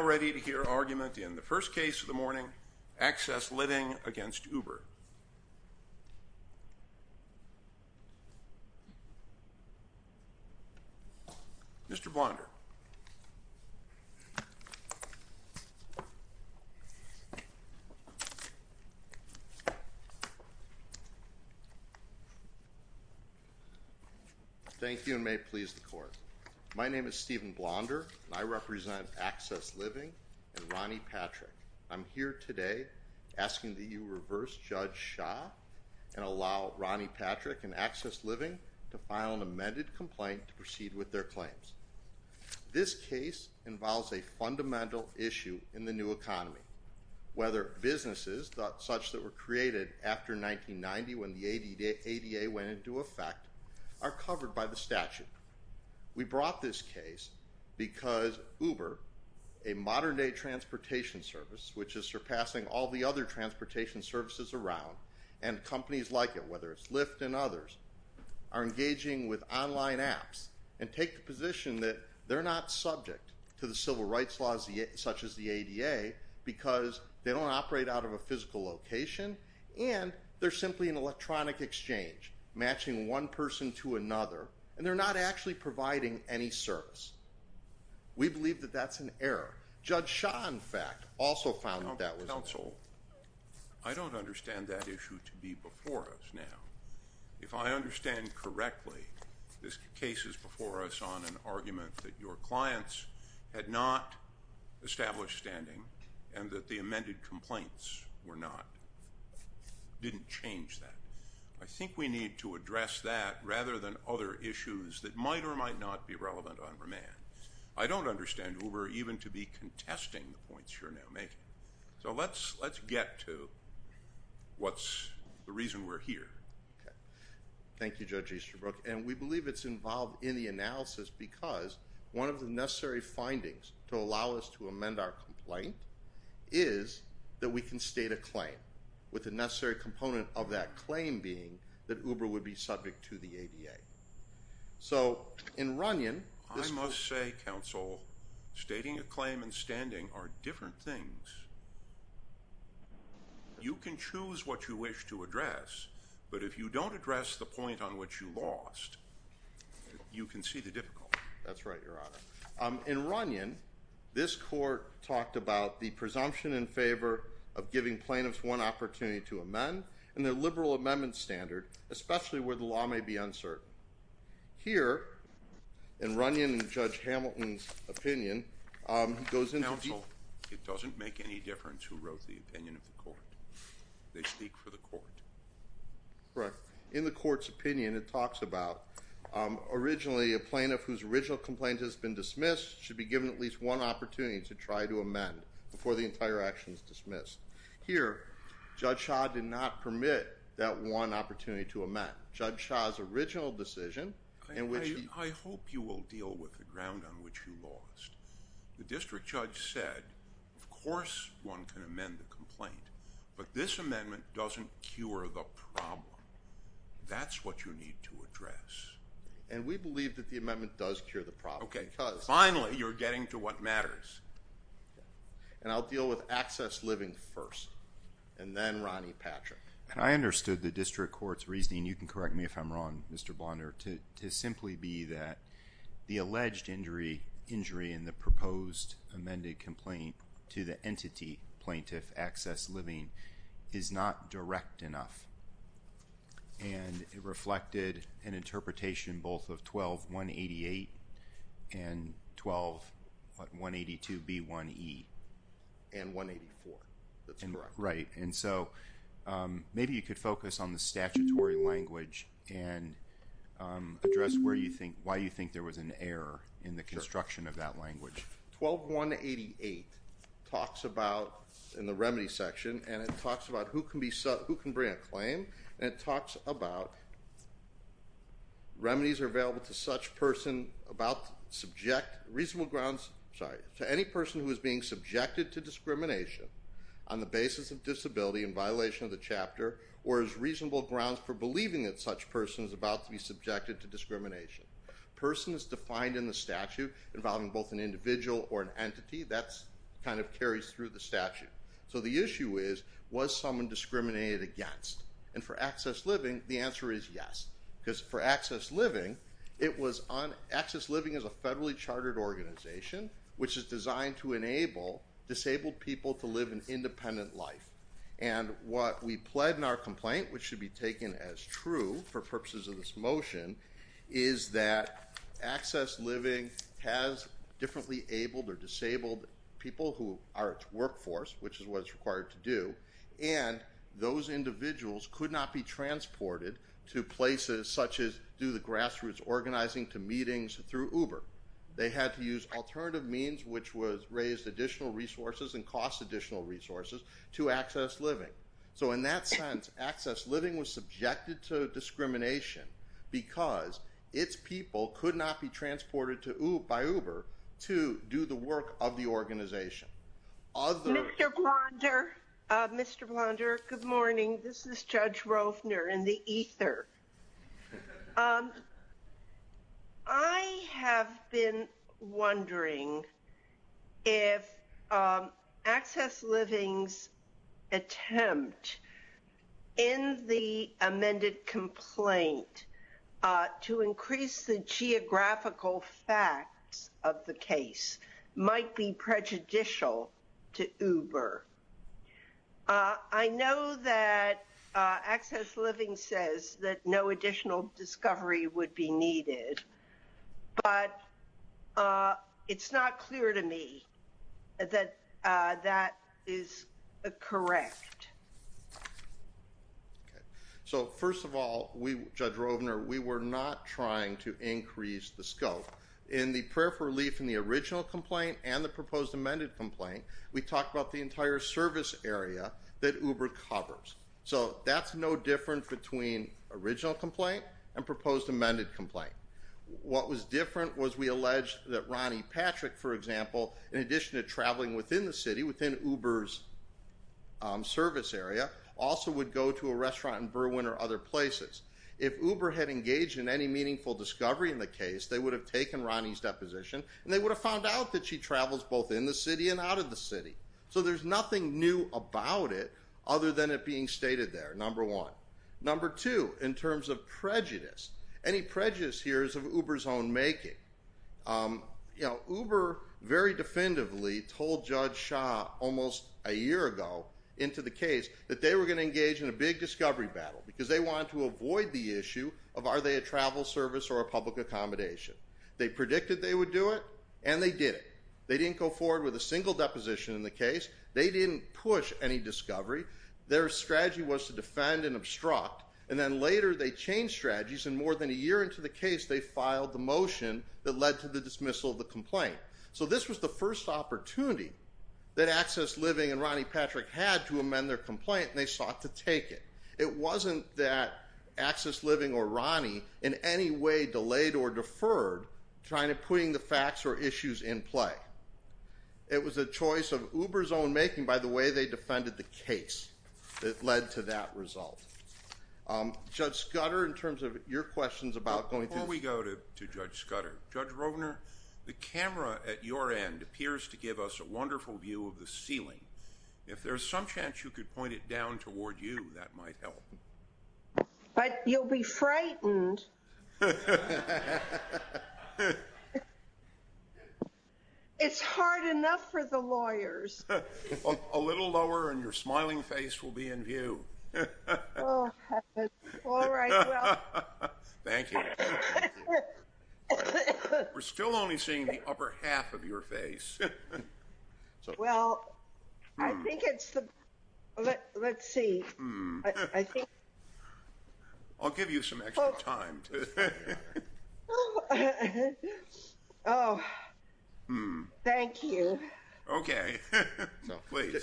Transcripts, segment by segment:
All ready to hear argument in the first case of the morning, Access Living v. Uber. Mr. Blonder. Thank you and may it please the court. My name is Stephen Blonder and I represent Access Living and Ronnie Patrick. I'm here today asking that you reverse Judge Shah and allow Ronnie Patrick and Access Living to file an amended complaint to proceed with their claims. This case involves a fundamental issue in the new economy. Whether businesses, such that were created after 1990 when the ADA went into effect, are covered by the statute. We brought this case because Uber, a modern day transportation service, which is surpassing all the other transportation services around, and companies like it, whether it's Lyft and others, are engaging with online apps and take the position that they're not subject to the civil rights laws such as the ADA because they don't operate out of a physical location and they're simply an electronic exchange, matching one person to another, and they're not actually providing any service. We believe that that's an error. Judge Shah, in fact, also found that that was an error. Counsel, I don't understand that issue to be before us now. If I understand correctly, this case is before us on an argument that your clients had not established standing and that the amended complaints were not, didn't change that. I think we need to address that rather than other issues that might or might not be relevant on remand. I don't understand Uber even to be contesting the points you're now making. So let's get to what's the reason we're here. Okay. Thank you, Judge Easterbrook. And we believe it's involved in the analysis because one of the necessary findings to allow us to amend our complaint is that we can state a claim, with the necessary component of that claim being that Uber would be subject to the ADA. So in Runyon. I must say, Counsel, stating a claim and standing are different things. You can choose what you wish to address, but if you don't address the point on which you lost, you can see the difficulty. That's right, Your Honor. In Runyon, this court talked about the presumption in favor of giving plaintiffs one opportunity to amend, and their liberal amendment standard, especially where the law may be uncertain. Here, in Runyon and Judge Hamilton's opinion, goes into- Counsel, it doesn't make any difference who wrote the opinion of the court. They speak for the court. Correct. In the court's opinion, it talks about, originally, a plaintiff whose original complaint has been dismissed should be given at least one opportunity to try to amend before the entire action is dismissed. Here, Judge Shaw did not permit that one opportunity to amend. Judge Shaw's original decision, in which he- I hope you will deal with the ground on which you lost. The district judge said, of course one can amend the complaint, but this amendment doesn't cure the problem. That's what you need to address. And we believe that the amendment does cure the problem because- Okay, finally, you're getting to what matters. And I'll deal with access living first, and then Ronnie Patrick. And I understood the district court's reasoning, you can correct me if I'm wrong, Mr. Blonder, to simply be that the alleged injury in the proposed amended complaint to the entity plaintiff access living is not direct enough. And it reflected an interpretation both of 12-188 and 12-182-B1E. And 184, that's correct. Right. And so maybe you could focus on the statutory language and address why you think there was an error in the construction of that language. 12-188 talks about, in the remedy section, and it talks about who can bring a claim, and it talks about remedies are available to such person about subject- reasonable grounds, sorry, to any person who is being subjected to discrimination on the basis of disability in violation of the chapter, or as reasonable grounds for believing that such person is about to be subjected to discrimination. Person is defined in the statute involving both an individual or an entity. That kind of carries through the statute. So the issue is, was someone discriminated against? And for access living, the answer is yes. Because for access living, it was on access living as a federally chartered organization, which is designed to enable disabled people to live an independent life. And what we pled in our complaint, which should be taken as true for purposes of this motion, is that access living has differently abled or disabled people who are its workforce, which is what it's required to do, and those individuals could not be transported to places such as, do the grassroots organizing to meetings through Uber. They had to use alternative means, which raised additional resources and cost additional resources, to access living. So in that sense, access living was subjected to discrimination because its people could not be transported by Uber to do the work of the organization. Mr. Blonder, Mr. Blonder, good morning. This is Judge Rovner in the ether. I have been wondering if access living's attempt in the amended complaint to increase the geographical facts of the case might be prejudicial to Uber. I know that access living says that no additional discovery would be needed, but it's not clear to me that that is correct. So first of all, Judge Rovner, we were not trying to increase the scope. In the prayer for relief in the original complaint and the proposed amended complaint, we talked about the entire service area that Uber covers. So that's no different between original complaint and proposed amended complaint. What was different was we alleged that Ronnie Patrick, for example, in addition to traveling within the city, within Uber's service area, also would go to a restaurant in Berwyn or other places. If Uber had engaged in any meaningful discovery in the case, they would have taken Ronnie's deposition and they would have found out that she travels both in the city and out of the city. So there's nothing new about it other than it being stated there, number one. Number two, in terms of prejudice, any prejudice here is of Uber's own making. Uber very definitively told Judge Shah almost a year ago into the case that they were going to engage in a big discovery battle because they wanted to avoid the issue of are they a travel service or a public accommodation. They predicted they would do it, and they did it. They didn't go forward with a single deposition in the case. They didn't push any discovery. Their strategy was to defend and obstruct. And then later they changed strategies, and more than a year into the case they filed the motion that led to the dismissal of the complaint. So this was the first opportunity that Access Living and Ronnie Patrick had to amend their complaint, and they sought to take it. It wasn't that Access Living or Ronnie in any way delayed or deferred trying to put the facts or issues in play. It was a choice of Uber's own making by the way they defended the case that led to that result. Judge Scudder, in terms of your questions about going to- Before we go to Judge Scudder, Judge Rovner, the camera at your end appears to give us a wonderful view of the ceiling. If there's some chance you could point it down toward you, that might help. But you'll be frightened. It's hard enough for the lawyers. A little lower and your smiling face will be in view. All right, well- Thank you. We're still only seeing the upper half of your face. Well, I think it's the- Let's see. I'll give you some extra time. Thank you. Okay.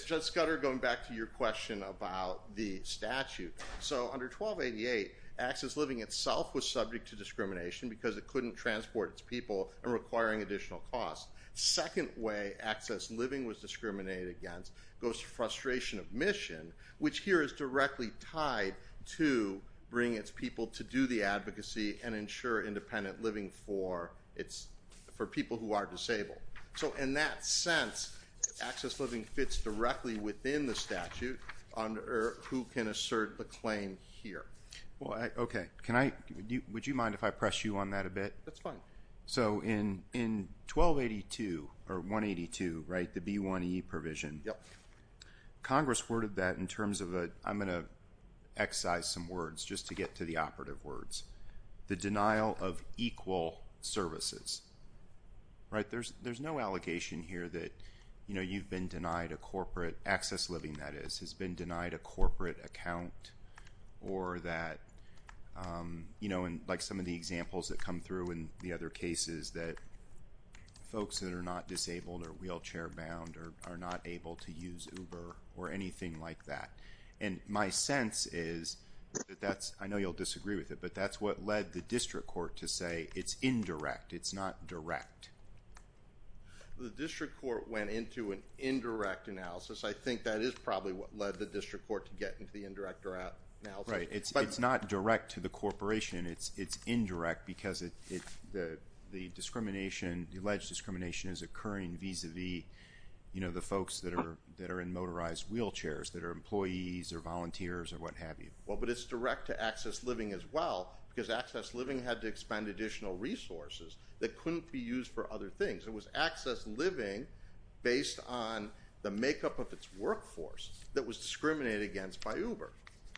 Judge Scudder, going back to your question about the statute. Under 1288, Access Living itself was subject to discrimination because it couldn't transport its people and requiring additional costs. Second way Access Living was discriminated against goes to frustration of mission, which here is directly tied to bringing its people to do the advocacy and ensure independent living for people who are disabled. So in that sense, Access Living fits directly within the statute under who can assert the claim here. Okay. Would you mind if I press you on that a bit? That's fine. So in 1282, the B1E provision, Congress worded that in terms of a- I'm going to excise some words just to get to the operative words. The denial of equal services. Right? There's no allegation here that, you know, you've been denied a corporate- Access Living, that is, has been denied a corporate account or that, you know, like some of the examples that come through in the other cases that folks that are not disabled or wheelchair bound are not able to use Uber or anything like that. And my sense is that that's- I know you'll disagree with it, but that's what led the district court to say it's indirect. It's not direct. The district court went into an indirect analysis. I think that is probably what led the district court to get into the indirect analysis. Right. It's not direct to the corporation. It's indirect because the discrimination, the alleged discrimination is occurring vis-a-vis, you know, the folks that are in motorized wheelchairs that are employees or volunteers or what have you. Well, but it's direct to Access Living as well because Access Living had to expend additional resources that couldn't be used for other things. It was Access Living based on the makeup of its workforce that was discriminated against by Uber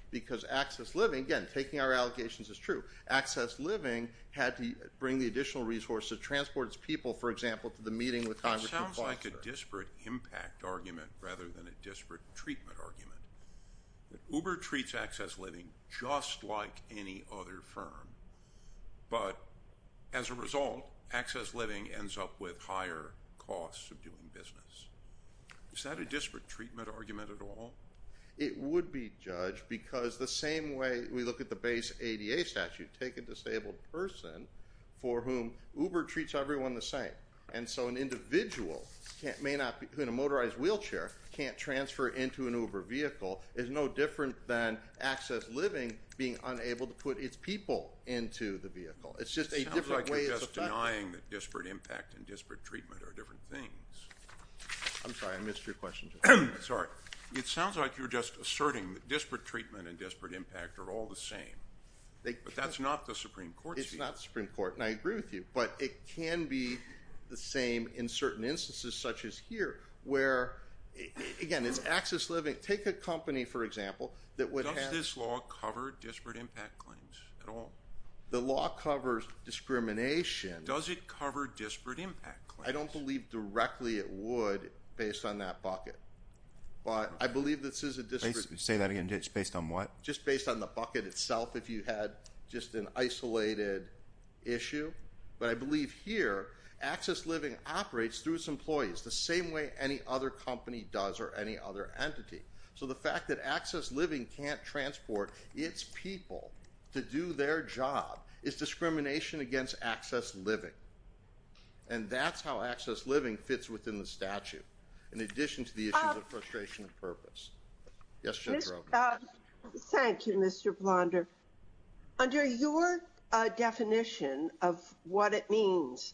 because Access Living, again, taking our allegations is true. Access Living had to bring the additional resources to transport its people, for example, to the meeting with Congressman Foster. It sounds like a disparate impact argument rather than a disparate treatment argument. Uber treats Access Living just like any other firm, but as a result, Access Living ends up with higher costs of doing business. Is that a disparate treatment argument at all? It would be, Judge, because the same way we look at the base ADA statute, take a disabled person for whom Uber treats everyone the same, and so an individual who in a motorized wheelchair can't transfer into an Uber vehicle is no different than Access Living being unable to put its people into the vehicle. It's just a different way of the function. It sounds like you're just denying that disparate impact and disparate treatment are different things. I'm sorry. I missed your question, Judge. Sorry. It sounds like you're just asserting that disparate treatment and disparate impact are all the same, but that's not the Supreme Court's view. It's not the Supreme Court, and I agree with you, but it can be the same in certain instances such as here where, again, it's Access Living. Take a company, for example, that would have – Does this law cover disparate impact claims at all? The law covers discrimination. Does it cover disparate impact claims? I don't believe directly it would based on that bucket, but I believe this is a – Say that again, based on what? Just based on the bucket itself if you had just an isolated issue, but I believe here Access Living operates through its employees the same way any other company does or any other entity. So the fact that Access Living can't transport its people to do their job is discrimination against Access Living, and that's how Access Living fits within the statute in addition to the issues of frustration and purpose. Yes, Judge Roe. Thank you, Mr. Blonder. Under your definition of what it means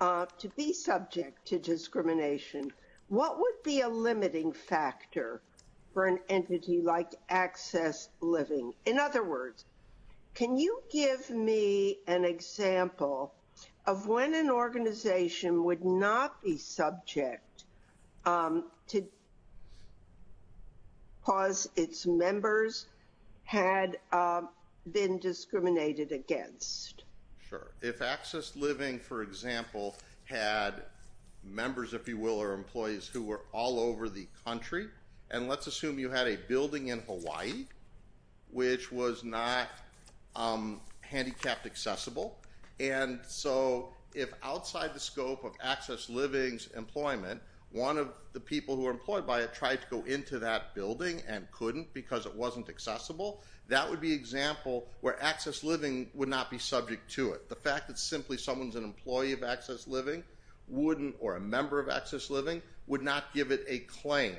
to be subject to discrimination, what would be a limiting factor for an entity like Access Living? In other words, can you give me an example of when an organization would not be subject to – because its members had been discriminated against? Sure. If Access Living, for example, had members, if you will, or employees who were all over the country, and let's assume you had a building in Hawaii which was not handicapped accessible, and so if outside the scope of Access Living's employment, one of the people who were employed by it tried to go into that building and couldn't because it wasn't accessible, that would be an example where Access Living would not be subject to it. The fact that simply someone's an employee of Access Living or a member of Access Living would not give it a claim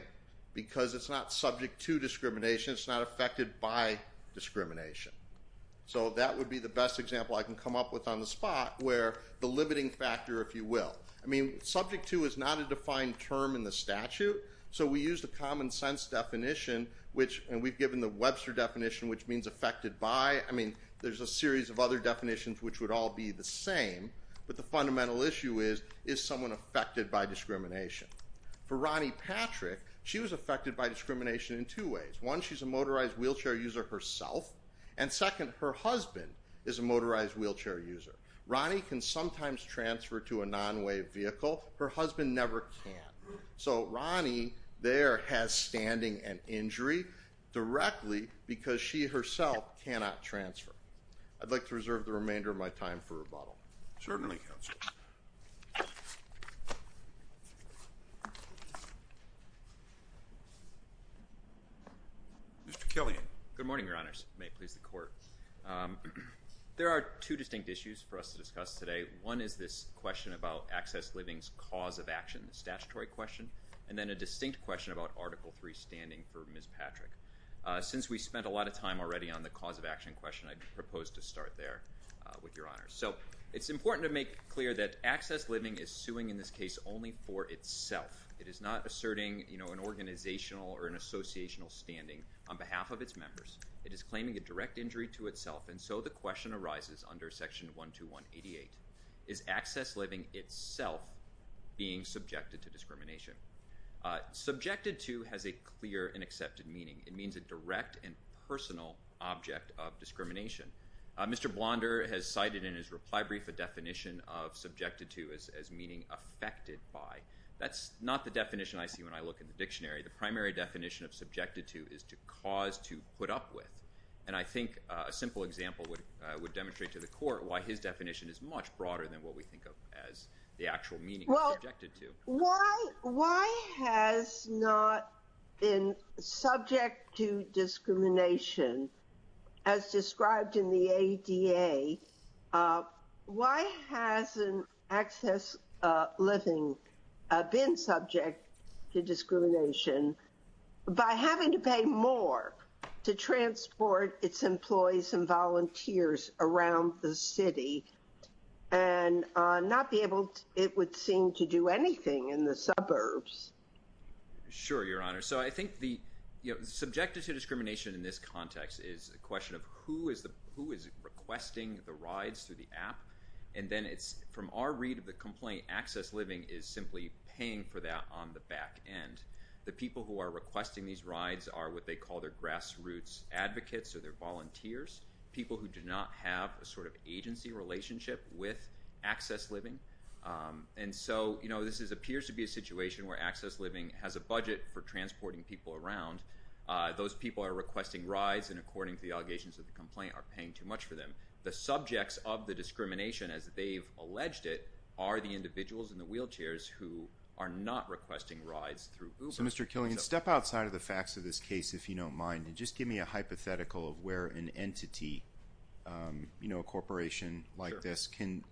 because it's not subject to discrimination, it's not affected by discrimination. So that would be the best example I can come up with on the spot where the limiting factor, if you will – I mean, subject to is not a defined term in the statute, so we used a common sense definition, and we've given the Webster definition, which means affected by. I mean, there's a series of other definitions which would all be the same, but the fundamental issue is, is someone affected by discrimination? For Ronnie Patrick, she was affected by discrimination in two ways. One, she's a motorized wheelchair user herself, and second, her husband is a motorized wheelchair user. Ronnie can sometimes transfer to a non-wave vehicle. Her husband never can. So Ronnie there has standing and injury directly because she herself cannot transfer. I'd like to reserve the remainder of my time for rebuttal. Certainly, counsel. Mr. Killian. Good morning, Your Honors. May it please the Court. There are two distinct issues for us to discuss today. One is this question about Access Living's cause of action, the statutory question, and then a distinct question about Article III standing for Ms. Patrick. Since we spent a lot of time already on the cause of action question, I propose to start there with Your Honors. So it's important to make clear that Access Living is suing in this case only for itself. It is not asserting an organizational or an associational standing on behalf of its members. It is claiming a direct injury to itself, and so the question arises under Section 12188. Is Access Living itself being subjected to discrimination? Subjected to has a clear and accepted meaning. It means a direct and personal object of discrimination. Mr. Blonder has cited in his reply brief a definition of subjected to as meaning affected by. That's not the definition I see when I look in the dictionary. The primary definition of subjected to is to cause to put up with, and I think a simple example would demonstrate to the Court why his definition is much broader than what we think of as the actual meaning of subjected to. Why has not been subject to discrimination as described in the ADA? Why hasn't Access Living been subject to discrimination? By having to pay more to transport its employees and volunteers around the city and not be able, it would seem, to do anything in the suburbs. Sure, Your Honor. So I think the subjected to discrimination in this context is a question of who is requesting the rides through the app, and then it's from our read of the complaint, Access Living is simply paying for that on the back end. The people who are requesting these rides are what they call their grassroots advocates or their volunteers, people who do not have a sort of agency relationship with Access Living. And so this appears to be a situation where Access Living has a budget for transporting people around. Those people are requesting rides, and according to the allegations of the complaint, are paying too much for them. The subjects of the discrimination, as they've alleged it, are the individuals in the wheelchairs who are not requesting rides through Uber. So, Mr. Killian, step outside of the facts of this case, if you don't mind, and just give me a hypothetical of where an entity, you know, a corporation like this, can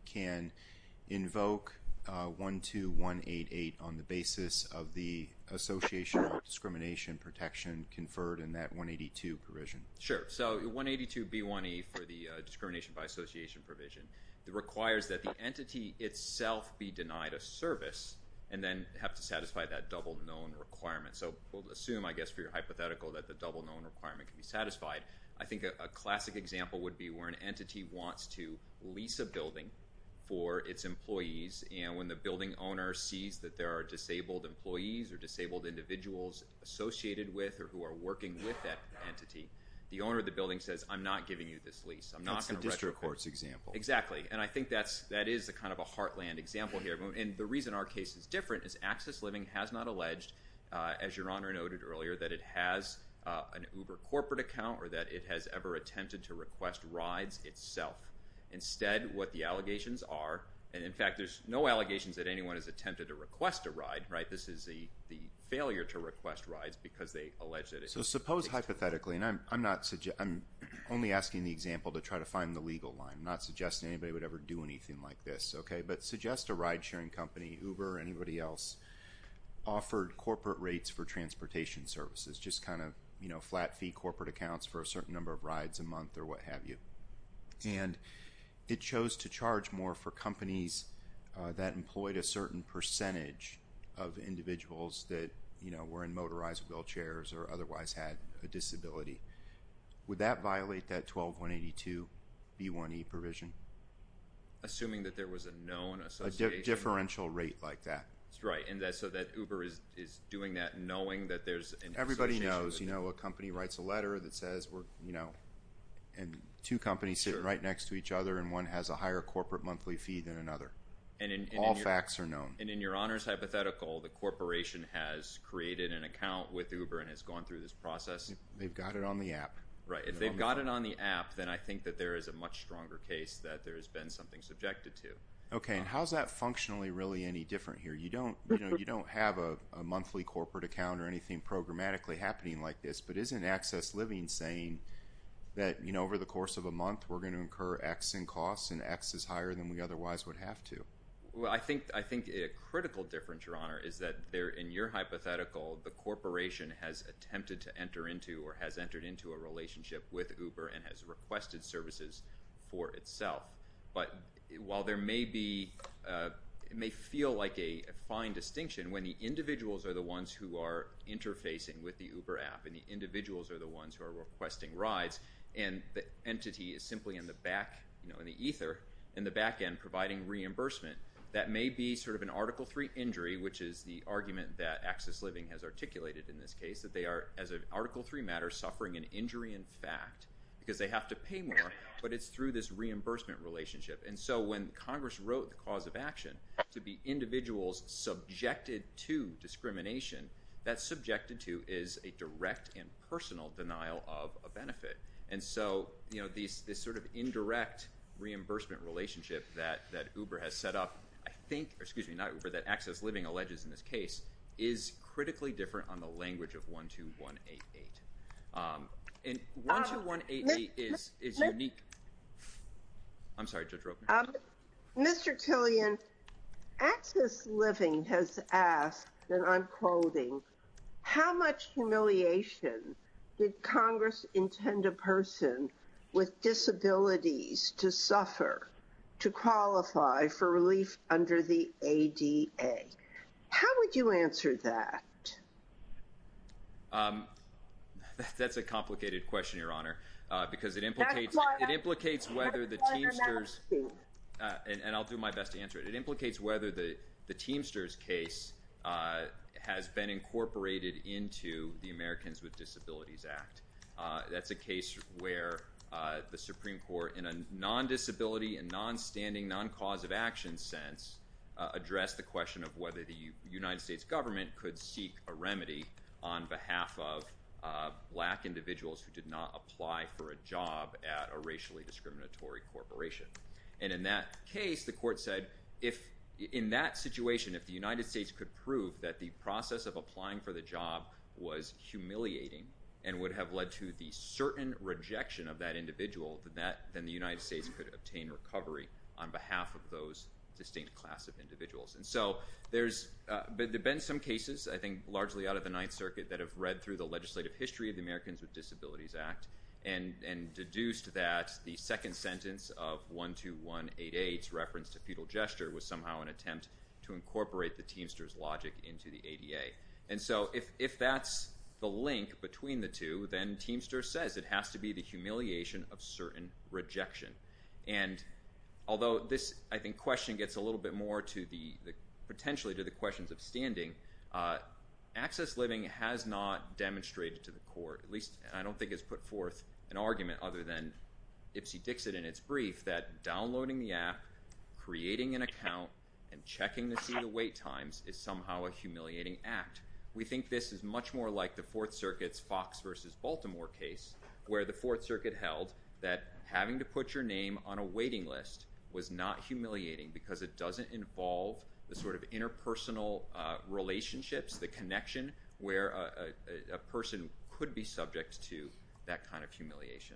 invoke 12188 on the basis of the association of discrimination protection conferred in that 182 provision. Sure. So 182B1E for the discrimination by association provision requires that the entity itself be denied a service and then have to satisfy that double known requirement. So we'll assume, I guess, for your hypothetical, that the double known requirement can be satisfied. I think a classic example would be where an entity wants to lease a building for its employees, and when the building owner sees that there are disabled employees or disabled individuals associated with or who are working with that entity, the owner of the building says, I'm not giving you this lease. That's the district court's example. Exactly. And I think that is kind of a heartland example here. And the reason our case is different is Access Living has not alleged, as Your Honor noted earlier, that it has an Uber corporate account or that it has ever attempted to request rides itself. Instead, what the allegations are, and in fact, there's no allegations that anyone has attempted to request a ride, right? This is the failure to request rides because they allege that it is. So suppose hypothetically, and I'm only asking the example to try to find the legal line, not suggesting anybody would ever do anything like this, okay? But suggest a ride-sharing company, Uber or anybody else, offered corporate rates for transportation services, just kind of flat-fee corporate accounts for a certain number of rides a month or what have you. And it chose to charge more for companies that employed a certain percentage of individuals that, you know, were in motorized wheelchairs or otherwise had a disability. Would that violate that 12-182-B1E provision? Assuming that there was a known association. A differential rate like that. Right, and so that Uber is doing that knowing that there's an association. Everybody knows, you know, a company writes a letter that says, you know, and two companies sit right next to each other and one has a higher corporate monthly fee than another. All facts are known. And in Your Honor's hypothetical, the corporation has created an account with Uber and has gone through this process. They've got it on the app. Right, if they've got it on the app, then I think that there is a much stronger case that there has been something subjected to. Okay, and how is that functionally really any different here? You don't have a monthly corporate account or anything programmatically happening like this, but isn't access living saying that, you know, over the course of a month, we're going to incur X in costs and X is higher than we otherwise would have to? Well, I think a critical difference, Your Honor, is that in your hypothetical, the corporation has attempted to enter into or has entered into a relationship with Uber and has requested services for itself. But while there may be, it may feel like a fine distinction, when the individuals are the ones who are interfacing with the Uber app and the individuals are the ones who are requesting rides and the entity is simply in the back, you know, in the ether, in the back end providing reimbursement, that may be sort of an Article III injury, which is the argument that access living has articulated in this case, that they are, as an Article III matter, suffering an injury in fact, because they have to pay more, but it's through this reimbursement relationship. And so when Congress wrote the cause of action to be individuals subjected to discrimination, that subjected to is a direct and personal denial of a benefit. And so, you know, this sort of indirect reimbursement relationship that Uber has set up, I think, or excuse me, not Uber, that access living alleges in this case, is critically different on the language of 12188. And 12188 is unique. I'm sorry, Judge Roper. Mr. Tillian, access living has asked, and I'm quoting, how much humiliation did Congress intend a person with disabilities to suffer to qualify for relief under the ADA? How would you answer that? That's a complicated question, Your Honor, because it implicates whether the Teamsters, and I'll do my best to answer it, but it implicates whether the Teamsters case has been incorporated into the Americans with Disabilities Act. That's a case where the Supreme Court, in a non-disability and non-standing, non-cause of action sense, addressed the question of whether the United States government could seek a remedy on behalf of black individuals who did not apply for a job at a racially discriminatory corporation. And in that case, the court said, in that situation, if the United States could prove that the process of applying for the job was humiliating and would have led to the certain rejection of that individual, then the United States could obtain recovery on behalf of those distinct class of individuals. And so there have been some cases, I think, largely out of the Ninth Circuit, that have read through the legislative history of the Americans with Disabilities Act and deduced that the second sentence of 12188's reference to fetal gesture was somehow an attempt to incorporate the Teamsters logic into the ADA. And so if that's the link between the two, then Teamsters says it has to be the humiliation of certain rejection. And although this, I think, question gets a little bit more potentially to the questions of standing, access living has not demonstrated to the court, at least I don't think it's put forth an argument other than Ipsy Dixit in its brief, that downloading the app, creating an account, and checking to see the wait times is somehow a humiliating act. We think this is much more like the Fourth Circuit's Fox v. Baltimore case, where the Fourth Circuit held that having to put your name on a waiting list was not humiliating because it doesn't involve the sort of interpersonal relationships, the connection where a person could be subject to that kind of humiliation.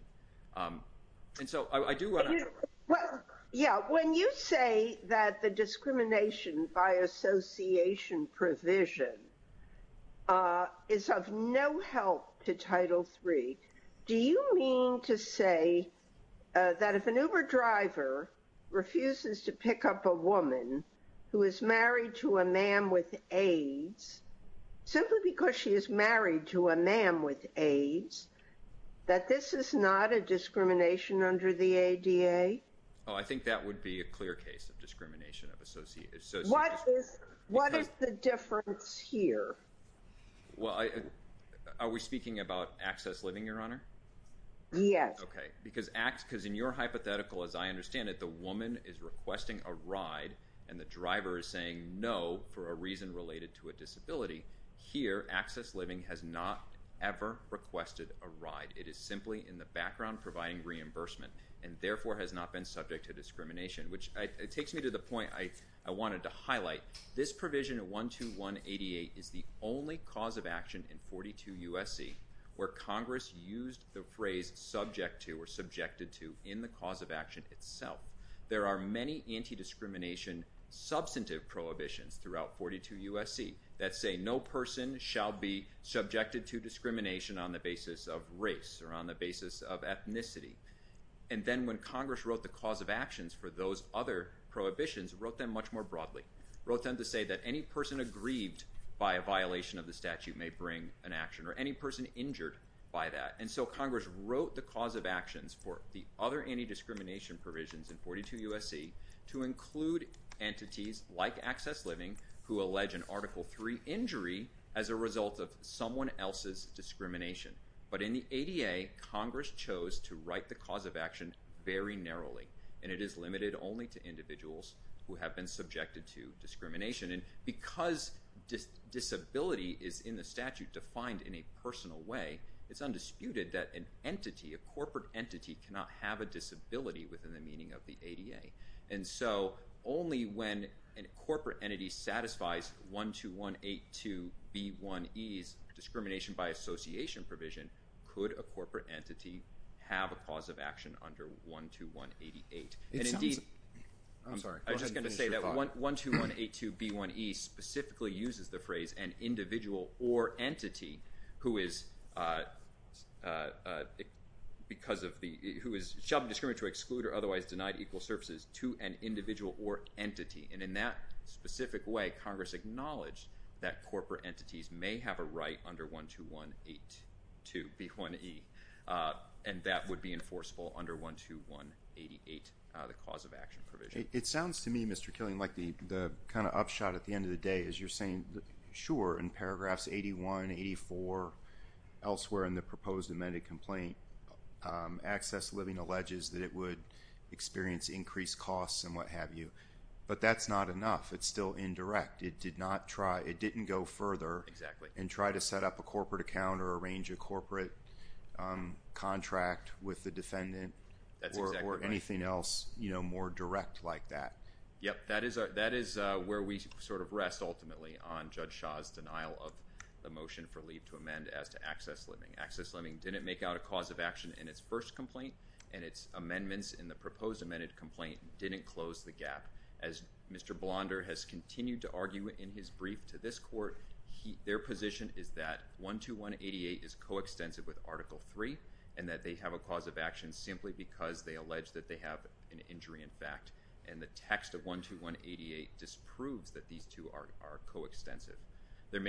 And so I do want to... Well, yeah, when you say that the discrimination by association provision is of no help to Title III, do you mean to say that if an Uber driver refuses to pick up a woman who is married to a man with AIDS, simply because she is married to a man with AIDS, that this is not a discrimination under the ADA? Oh, I think that would be a clear case of discrimination of association. What is the difference here? Well, are we speaking about Access Living, Your Honor? Yes. Okay, because in your hypothetical, as I understand it, the woman is requesting a ride and the driver is saying no for a reason related to a disability. Here, Access Living has not ever requested a ride. It is simply in the background providing reimbursement and therefore has not been subject to discrimination, which takes me to the point I wanted to highlight. This provision of 12188 is the only cause of action in 42 U.S.C. where Congress used the phrase subject to or subjected to in the cause of action itself. There are many anti-discrimination substantive prohibitions throughout 42 U.S.C. that say no person shall be subjected to discrimination on the basis of race or on the basis of ethnicity. And then when Congress wrote the cause of actions for those other prohibitions, it wrote them much more broadly. It wrote them to say that any person aggrieved by a violation of the statute may bring an action or any person injured by that. And so Congress wrote the cause of actions for the other anti-discrimination provisions in 42 U.S.C. to include entities like Access Living who allege an Article III injury as a result of someone else's discrimination. But in the ADA, Congress chose to write the cause of action very narrowly, and it is limited only to individuals who have been subjected to discrimination. And because disability is in the statute defined in a personal way, it's undisputed that an entity, a corporate entity, cannot have a disability within the meaning of the ADA. And so only when a corporate entity satisfies 12182B1E's discrimination by association provision could a corporate entity have a cause of action under 12188. And indeed, I'm just going to say that 12182B1E specifically uses the phrase an individual or entity who is because of the, who is, shall be discriminated to exclude or otherwise denied equal services to an individual or entity. And in that specific way, Congress acknowledged that corporate entities may have a right under 12182B1E, and that would be enforceable under 12188, the cause of action provision. It sounds to me, Mr. Killian, like the kind of upshot at the end of the day is you're saying, sure, in paragraphs 81, 84, elsewhere in the proposed amended complaint, Access Living alleges that it would experience increased costs and what have you. But that's not enough. It's still indirect. It did not try, it didn't go further and try to set up a corporate account or arrange a corporate contract with the defendant or anything else, you know, more direct like that. Yep. That is where we sort of rest ultimately on Judge Shah's denial of the motion for leave to amend as to Access Living. Access Living didn't make out a cause of action in its first complaint, and its amendments in the proposed amended complaint didn't close the gap. As Mr. Blonder has continued to argue in his brief to this court, their position is that 12188 is coextensive with Article 3, and that they have a cause of action simply because they allege that they have an injury in fact. And the text of 12188 disproves that these two are coextensive. So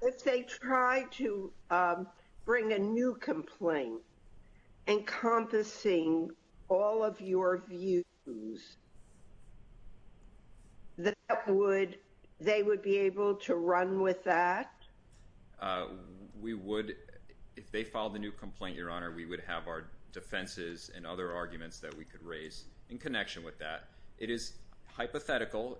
if they try to bring a new complaint encompassing all of your views, they would be able to run with that? We would, if they filed a new complaint, Your Honor, we would have our defenses and other arguments that we could raise in connection with that. It is hypothetical.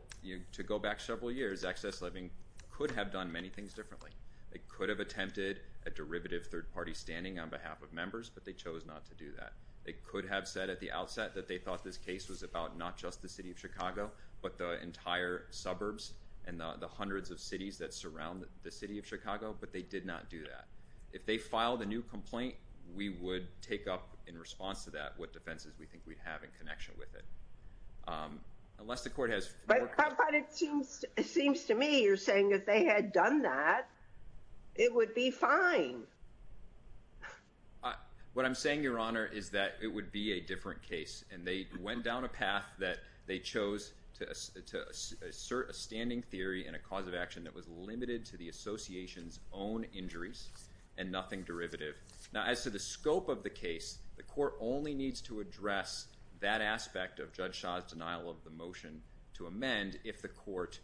To go back several years, Access Living could have done many things differently. They could have attempted a derivative third-party standing on behalf of members, but they chose not to do that. They could have said at the outset that they thought this case was about not just the city of Chicago, but the entire suburbs and the hundreds of cities that surround the city of Chicago, but they did not do that. If they filed a new complaint, we would take up in response to that what defenses we think we have in connection with it. But it seems to me you're saying if they had done that, it would be fine. What I'm saying, Your Honor, is that it would be a different case, and they went down a path that they chose to assert a standing theory and a cause of action that was limited to the association's own injuries and nothing derivative. Now, as to the scope of the case, the court only needs to address that aspect of Judge Shah's denial of the motion to amend if the court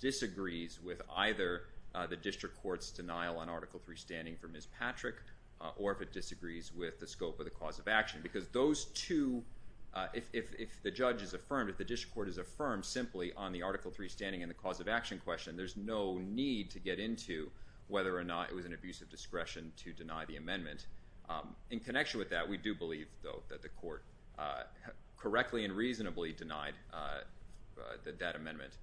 disagrees with either the district court's denial on Article III standing for Ms. Patrick or if it disagrees with the scope of the cause of action. Because those two, if the judge is affirmed, if the district court is affirmed simply on the Article III standing and the cause of action question, there's no need to get into whether or not it was an abuse of discretion to deny the amendment. In connection with that, we do believe, though, that the court correctly and reasonably denied that amendment.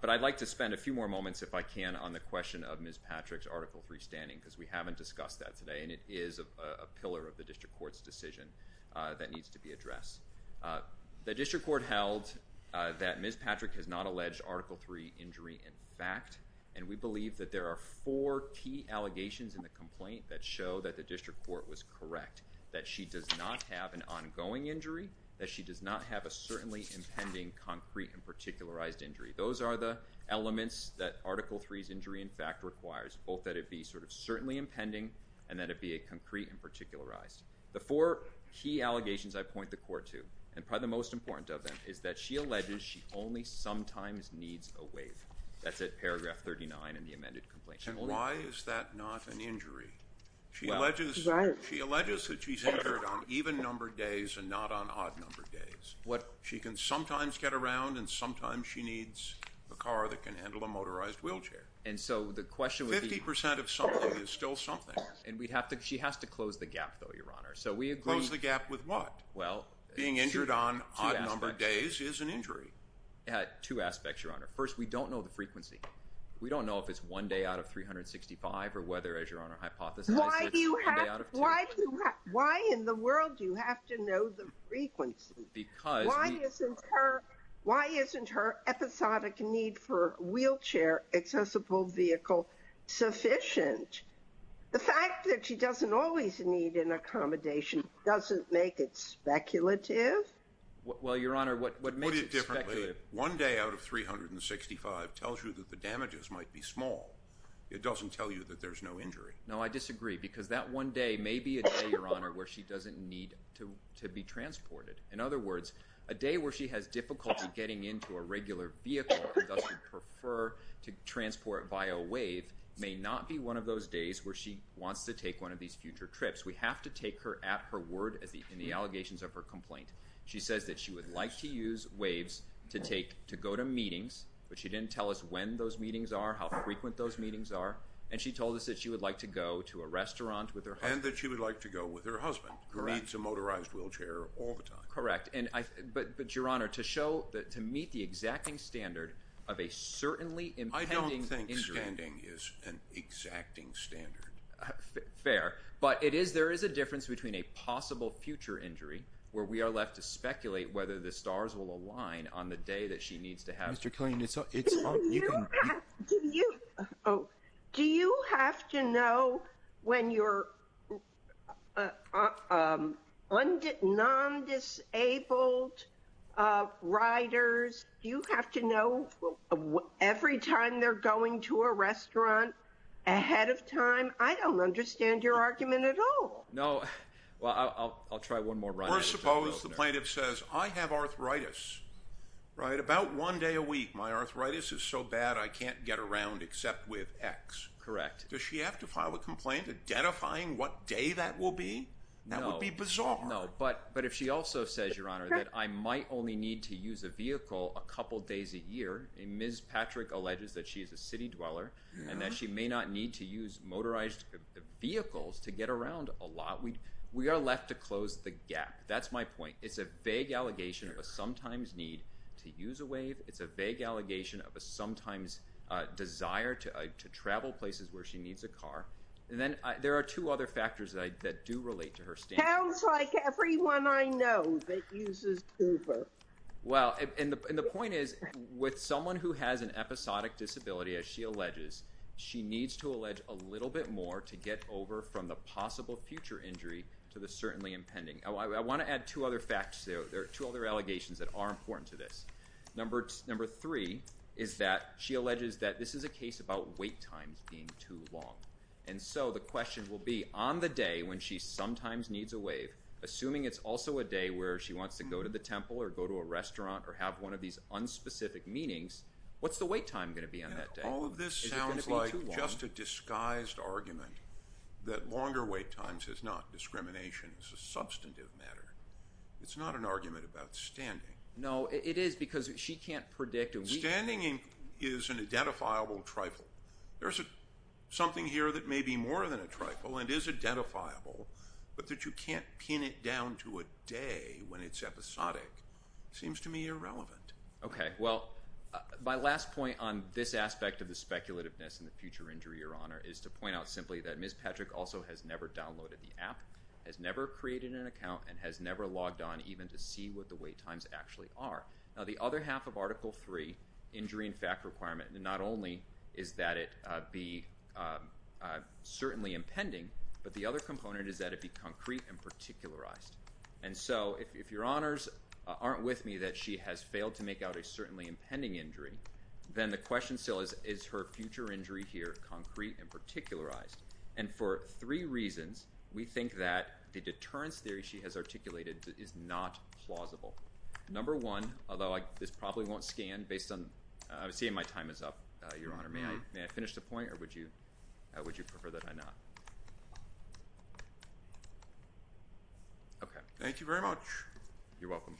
But I'd like to spend a few more moments, if I can, on the question of Ms. Patrick's Article III standing because we haven't discussed that today, and it is a pillar of the district court's decision that needs to be addressed. The district court held that Ms. Patrick has not alleged Article III injury in fact, and we believe that there are four key allegations in the complaint that show that the district court was correct, that she does not have an ongoing injury, that she does not have a certainly impending concrete and particularized injury. Those are the elements that Article III's injury in fact requires, both that it be sort of certainly impending and that it be a concrete and particularized. The four key allegations I point the court to, and probably the most important of them, is that she alleges she only sometimes needs a wave. That's at paragraph 39 in the amended complaint. And why is that not an injury? She alleges that she's injured on even-numbered days and not on odd-numbered days. She can sometimes get around, and sometimes she needs a car that can handle a motorized wheelchair. And so the question would be— Fifty percent of something is still something. And we'd have to—she has to close the gap, though, Your Honor. So we agree— Close the gap with what? Well— Being injured on odd-numbered days is an injury. Two aspects, Your Honor. First, we don't know the frequency. We don't know if it's one day out of 365 or whether, as Your Honor hypothesized, it's one day out of two. Why in the world do you have to know the frequency? Because we— Why isn't her episodic need for a wheelchair-accessible vehicle sufficient? The fact that she doesn't always need an accommodation doesn't make it speculative. Well, Your Honor, what makes it speculative— Put it differently. One day out of 365 tells you that the damages might be small. It doesn't tell you that there's no injury. No, I disagree, because that one day may be a day, Your Honor, where she doesn't need to be transported. In other words, a day where she has difficulty getting into a regular vehicle and thus would prefer to transport via a WAVE may not be one of those days where she wants to take one of these future trips. We have to take her at her word in the allegations of her complaint. She says that she would like to use WAVEs to go to meetings, but she didn't tell us when those meetings are, how frequent those meetings are, and she told us that she would like to go to a restaurant with her husband. And that she would like to go with her husband, who needs a motorized wheelchair all the time. Correct. But, Your Honor, to show—to meet the exacting standard of a certainly impending injury— I don't think standing is an exacting standard. Fair. But it is—there is a difference between a possible future injury, where we are left to speculate whether the stars will align on the day that she needs to have— Mr. Killian, it's— Do you have to know when your non-disabled riders— do you have to know every time they're going to a restaurant ahead of time? I don't understand your argument at all. No. Well, I'll try one more run at it. Or suppose the plaintiff says, I have arthritis, right? My arthritis is so bad I can't get around except with X. Correct. Does she have to file a complaint identifying what day that will be? No. That would be bizarre. No, but if she also says, Your Honor, that I might only need to use a vehicle a couple days a year, and Ms. Patrick alleges that she is a city dweller, and that she may not need to use motorized vehicles to get around a lot, we are left to close the gap. It's a vague allegation of a sometimes need to use a wave. It's a vague allegation of a sometimes desire to travel places where she needs a car. And then there are two other factors that do relate to her standing. Sounds like everyone I know that uses Uber. Well, and the point is, with someone who has an episodic disability, as she alleges, she needs to allege a little bit more to get over from the possible future injury to the certainly impending. I want to add two other facts there. There are two other allegations that are important to this. Number three is that she alleges that this is a case about wait times being too long. And so the question will be, on the day when she sometimes needs a wave, assuming it's also a day where she wants to go to the temple or go to a restaurant or have one of these unspecific meetings, what's the wait time going to be on that day? All of this sounds like just a disguised argument that longer wait times is not discrimination. It's a substantive matter. It's not an argument about standing. No, it is because she can't predict. Standing is an identifiable trifle. There's something here that may be more than a trifle and is identifiable, but that you can't pin it down to a day when it's episodic seems to me irrelevant. Okay. Well, my last point on this aspect of the speculativeness and the future injury, Your Honor, is to point out simply that Ms. Patrick also has never downloaded the app, has never created an account, and has never logged on even to see what the wait times actually are. Now, the other half of Article III, injury and fact requirement, not only is that it be certainly impending, but the other component is that it be concrete and particularized. And so if Your Honors aren't with me that she has failed to make out a certainly impending injury, then the question still is, is her future injury here concrete and particularized? And for three reasons, we think that the deterrence theory she has articulated is not plausible. Number one, although this probably won't scan based on seeing my time is up, Your Honor, may I finish the point or would you prefer that I not? Okay. Thank you very much. You're welcome.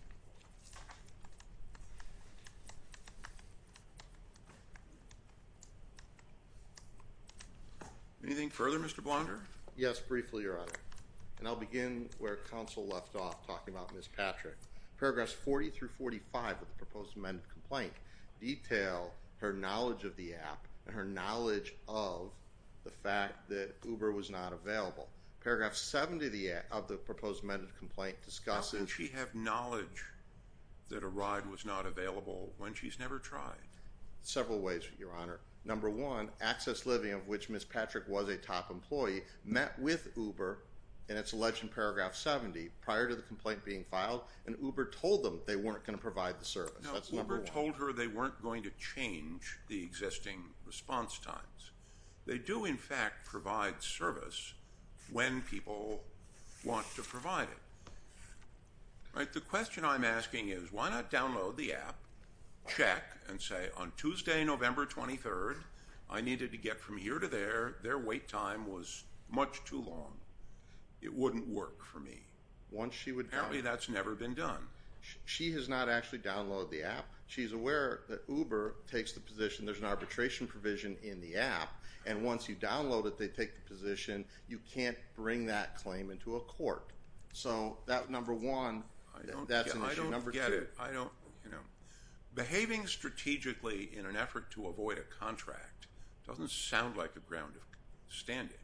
Anything further, Mr. Blunder? Yes, briefly, Your Honor. And I'll begin where counsel left off talking about Ms. Patrick. Paragraphs 40 through 45 of the proposed amended complaint detail her knowledge of the app and her knowledge of the fact that Uber was not available. Paragraph 7 of the proposed amended complaint discusses did she have knowledge that a ride was not available when she's never tried? Several ways, Your Honor. Number one, Access Living, of which Ms. Patrick was a top employee, met with Uber, and it's alleged in paragraph 70, prior to the complaint being filed, and Uber told them they weren't going to provide the service. That's number one. No, Uber told her they weren't going to change the existing response times. They do, in fact, provide service when people want to provide it. The question I'm asking is why not download the app, check, and say, on Tuesday, November 23rd, I needed to get from here to there, their wait time was much too long. It wouldn't work for me. Apparently that's never been done. She has not actually downloaded the app. She's aware that Uber takes the position there's an arbitration provision in the app, and once you download it, they take the position you can't bring that claim into a court. So number one, that's an issue. I don't get it. Behaving strategically in an effort to avoid a contract doesn't sound like a ground of standing.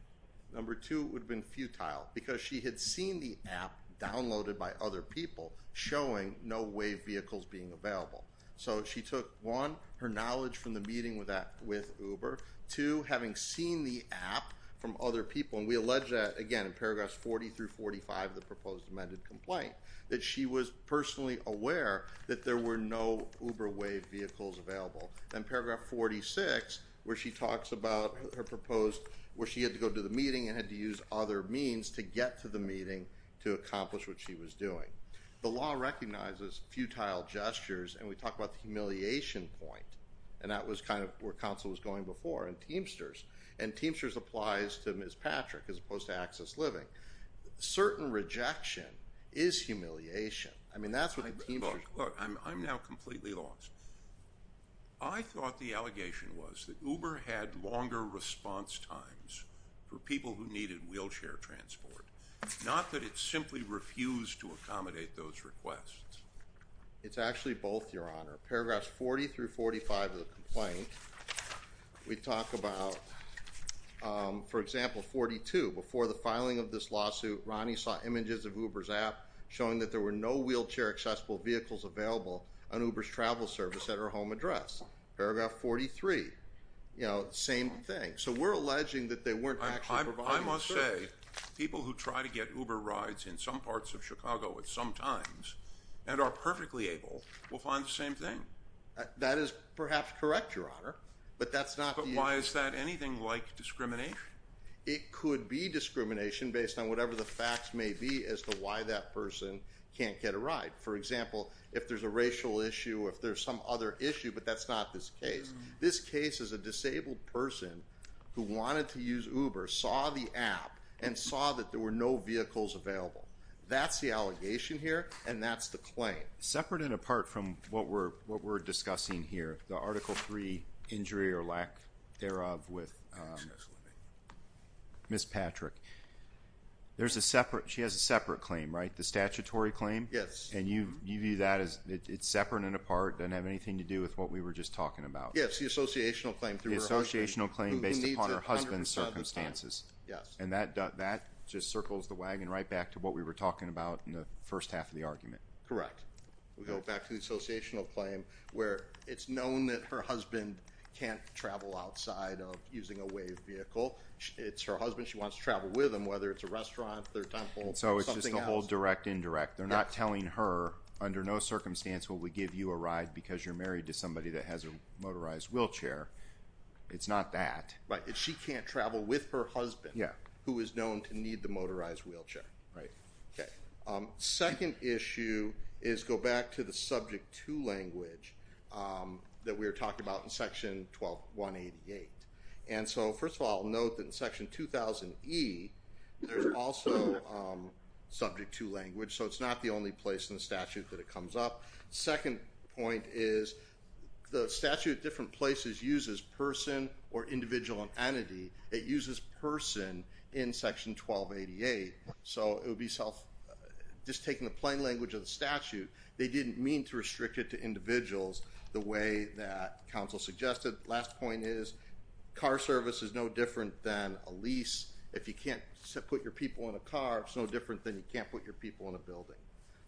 Number two, it would have been futile because she had seen the app downloaded by other people showing no WAVE vehicles being available. So she took, one, her knowledge from the meeting with Uber. Two, having seen the app from other people, and we allege that, again, in paragraphs 40 through 45 of the proposed amended complaint, that she was personally aware that there were no Uber WAVE vehicles available. In paragraph 46, where she talks about her proposed, where she had to go to the meeting and had to use other means to get to the meeting to accomplish what she was doing. The law recognizes futile gestures, and we talk about the humiliation point, and that was kind of where counsel was going before in Teamsters, and Teamsters applies to Ms. Patrick as opposed to Access Living. Certain rejection is humiliation. I mean, that's what the Teamsters. Look, I'm now completely lost. I thought the allegation was that Uber had longer response times for people who needed wheelchair transport, not that it simply refused to accommodate those requests. It's actually both, Your Honor. Paragraphs 40 through 45 of the complaint, we talk about, for example, 42. Before the filing of this lawsuit, Ronnie saw images of Uber's app showing that there were no wheelchair-accessible vehicles available on Uber's travel service at her home address. Paragraph 43, you know, same thing. So we're alleging that they weren't actually providing the service. I must say, people who try to get Uber rides in some parts of Chicago at some times and are perfectly able will find the same thing. That is perhaps correct, Your Honor, but that's not the issue. But why is that anything like discrimination? It could be discrimination based on whatever the facts may be as to why that person can't get a ride. For example, if there's a racial issue, if there's some other issue, but that's not this case. This case is a disabled person who wanted to use Uber, saw the app, and saw that there were no vehicles available. That's the allegation here, and that's the claim. Separate and apart from what we're discussing here, the Article III injury or lack thereof with Ms. Patrick. She has a separate claim, right, the statutory claim? Yes. And you view that as it's separate and apart, doesn't have anything to do with what we were just talking about. Yes, the associational claim. The associational claim based upon her husband's circumstances. Yes. And that just circles the wagon right back to what we were talking about in the first half of the argument. Correct. We go back to the associational claim where it's known that her husband can't travel outside of using a WAVE vehicle. It's her husband. She wants to travel with him, whether it's a restaurant, their temple. So it's just a whole direct-indirect. They're not telling her under no circumstance will we give you a ride because you're married to somebody that has a motorized wheelchair. It's not that. Right. She can't travel with her husband who is known to need the motorized wheelchair. Right. Okay. Second issue is go back to the Subject 2 language that we were talking about in Section 1288. And so, first of all, I'll note that in Section 2000E, there's also Subject 2 language. So it's not the only place in the statute that it comes up. Second point is the statute at different places uses person or individual and entity. It uses person in Section 1288. So just taking the plain language of the statute, they didn't mean to restrict it to individuals the way that counsel suggested. Last point is car service is no different than a lease. If you can't put your people in a car, it's no different than you can't put your people in a building.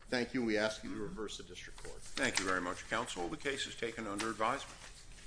Thank you, and we ask you to reverse the district court. Thank you very much, counsel. The case is taken under advisement.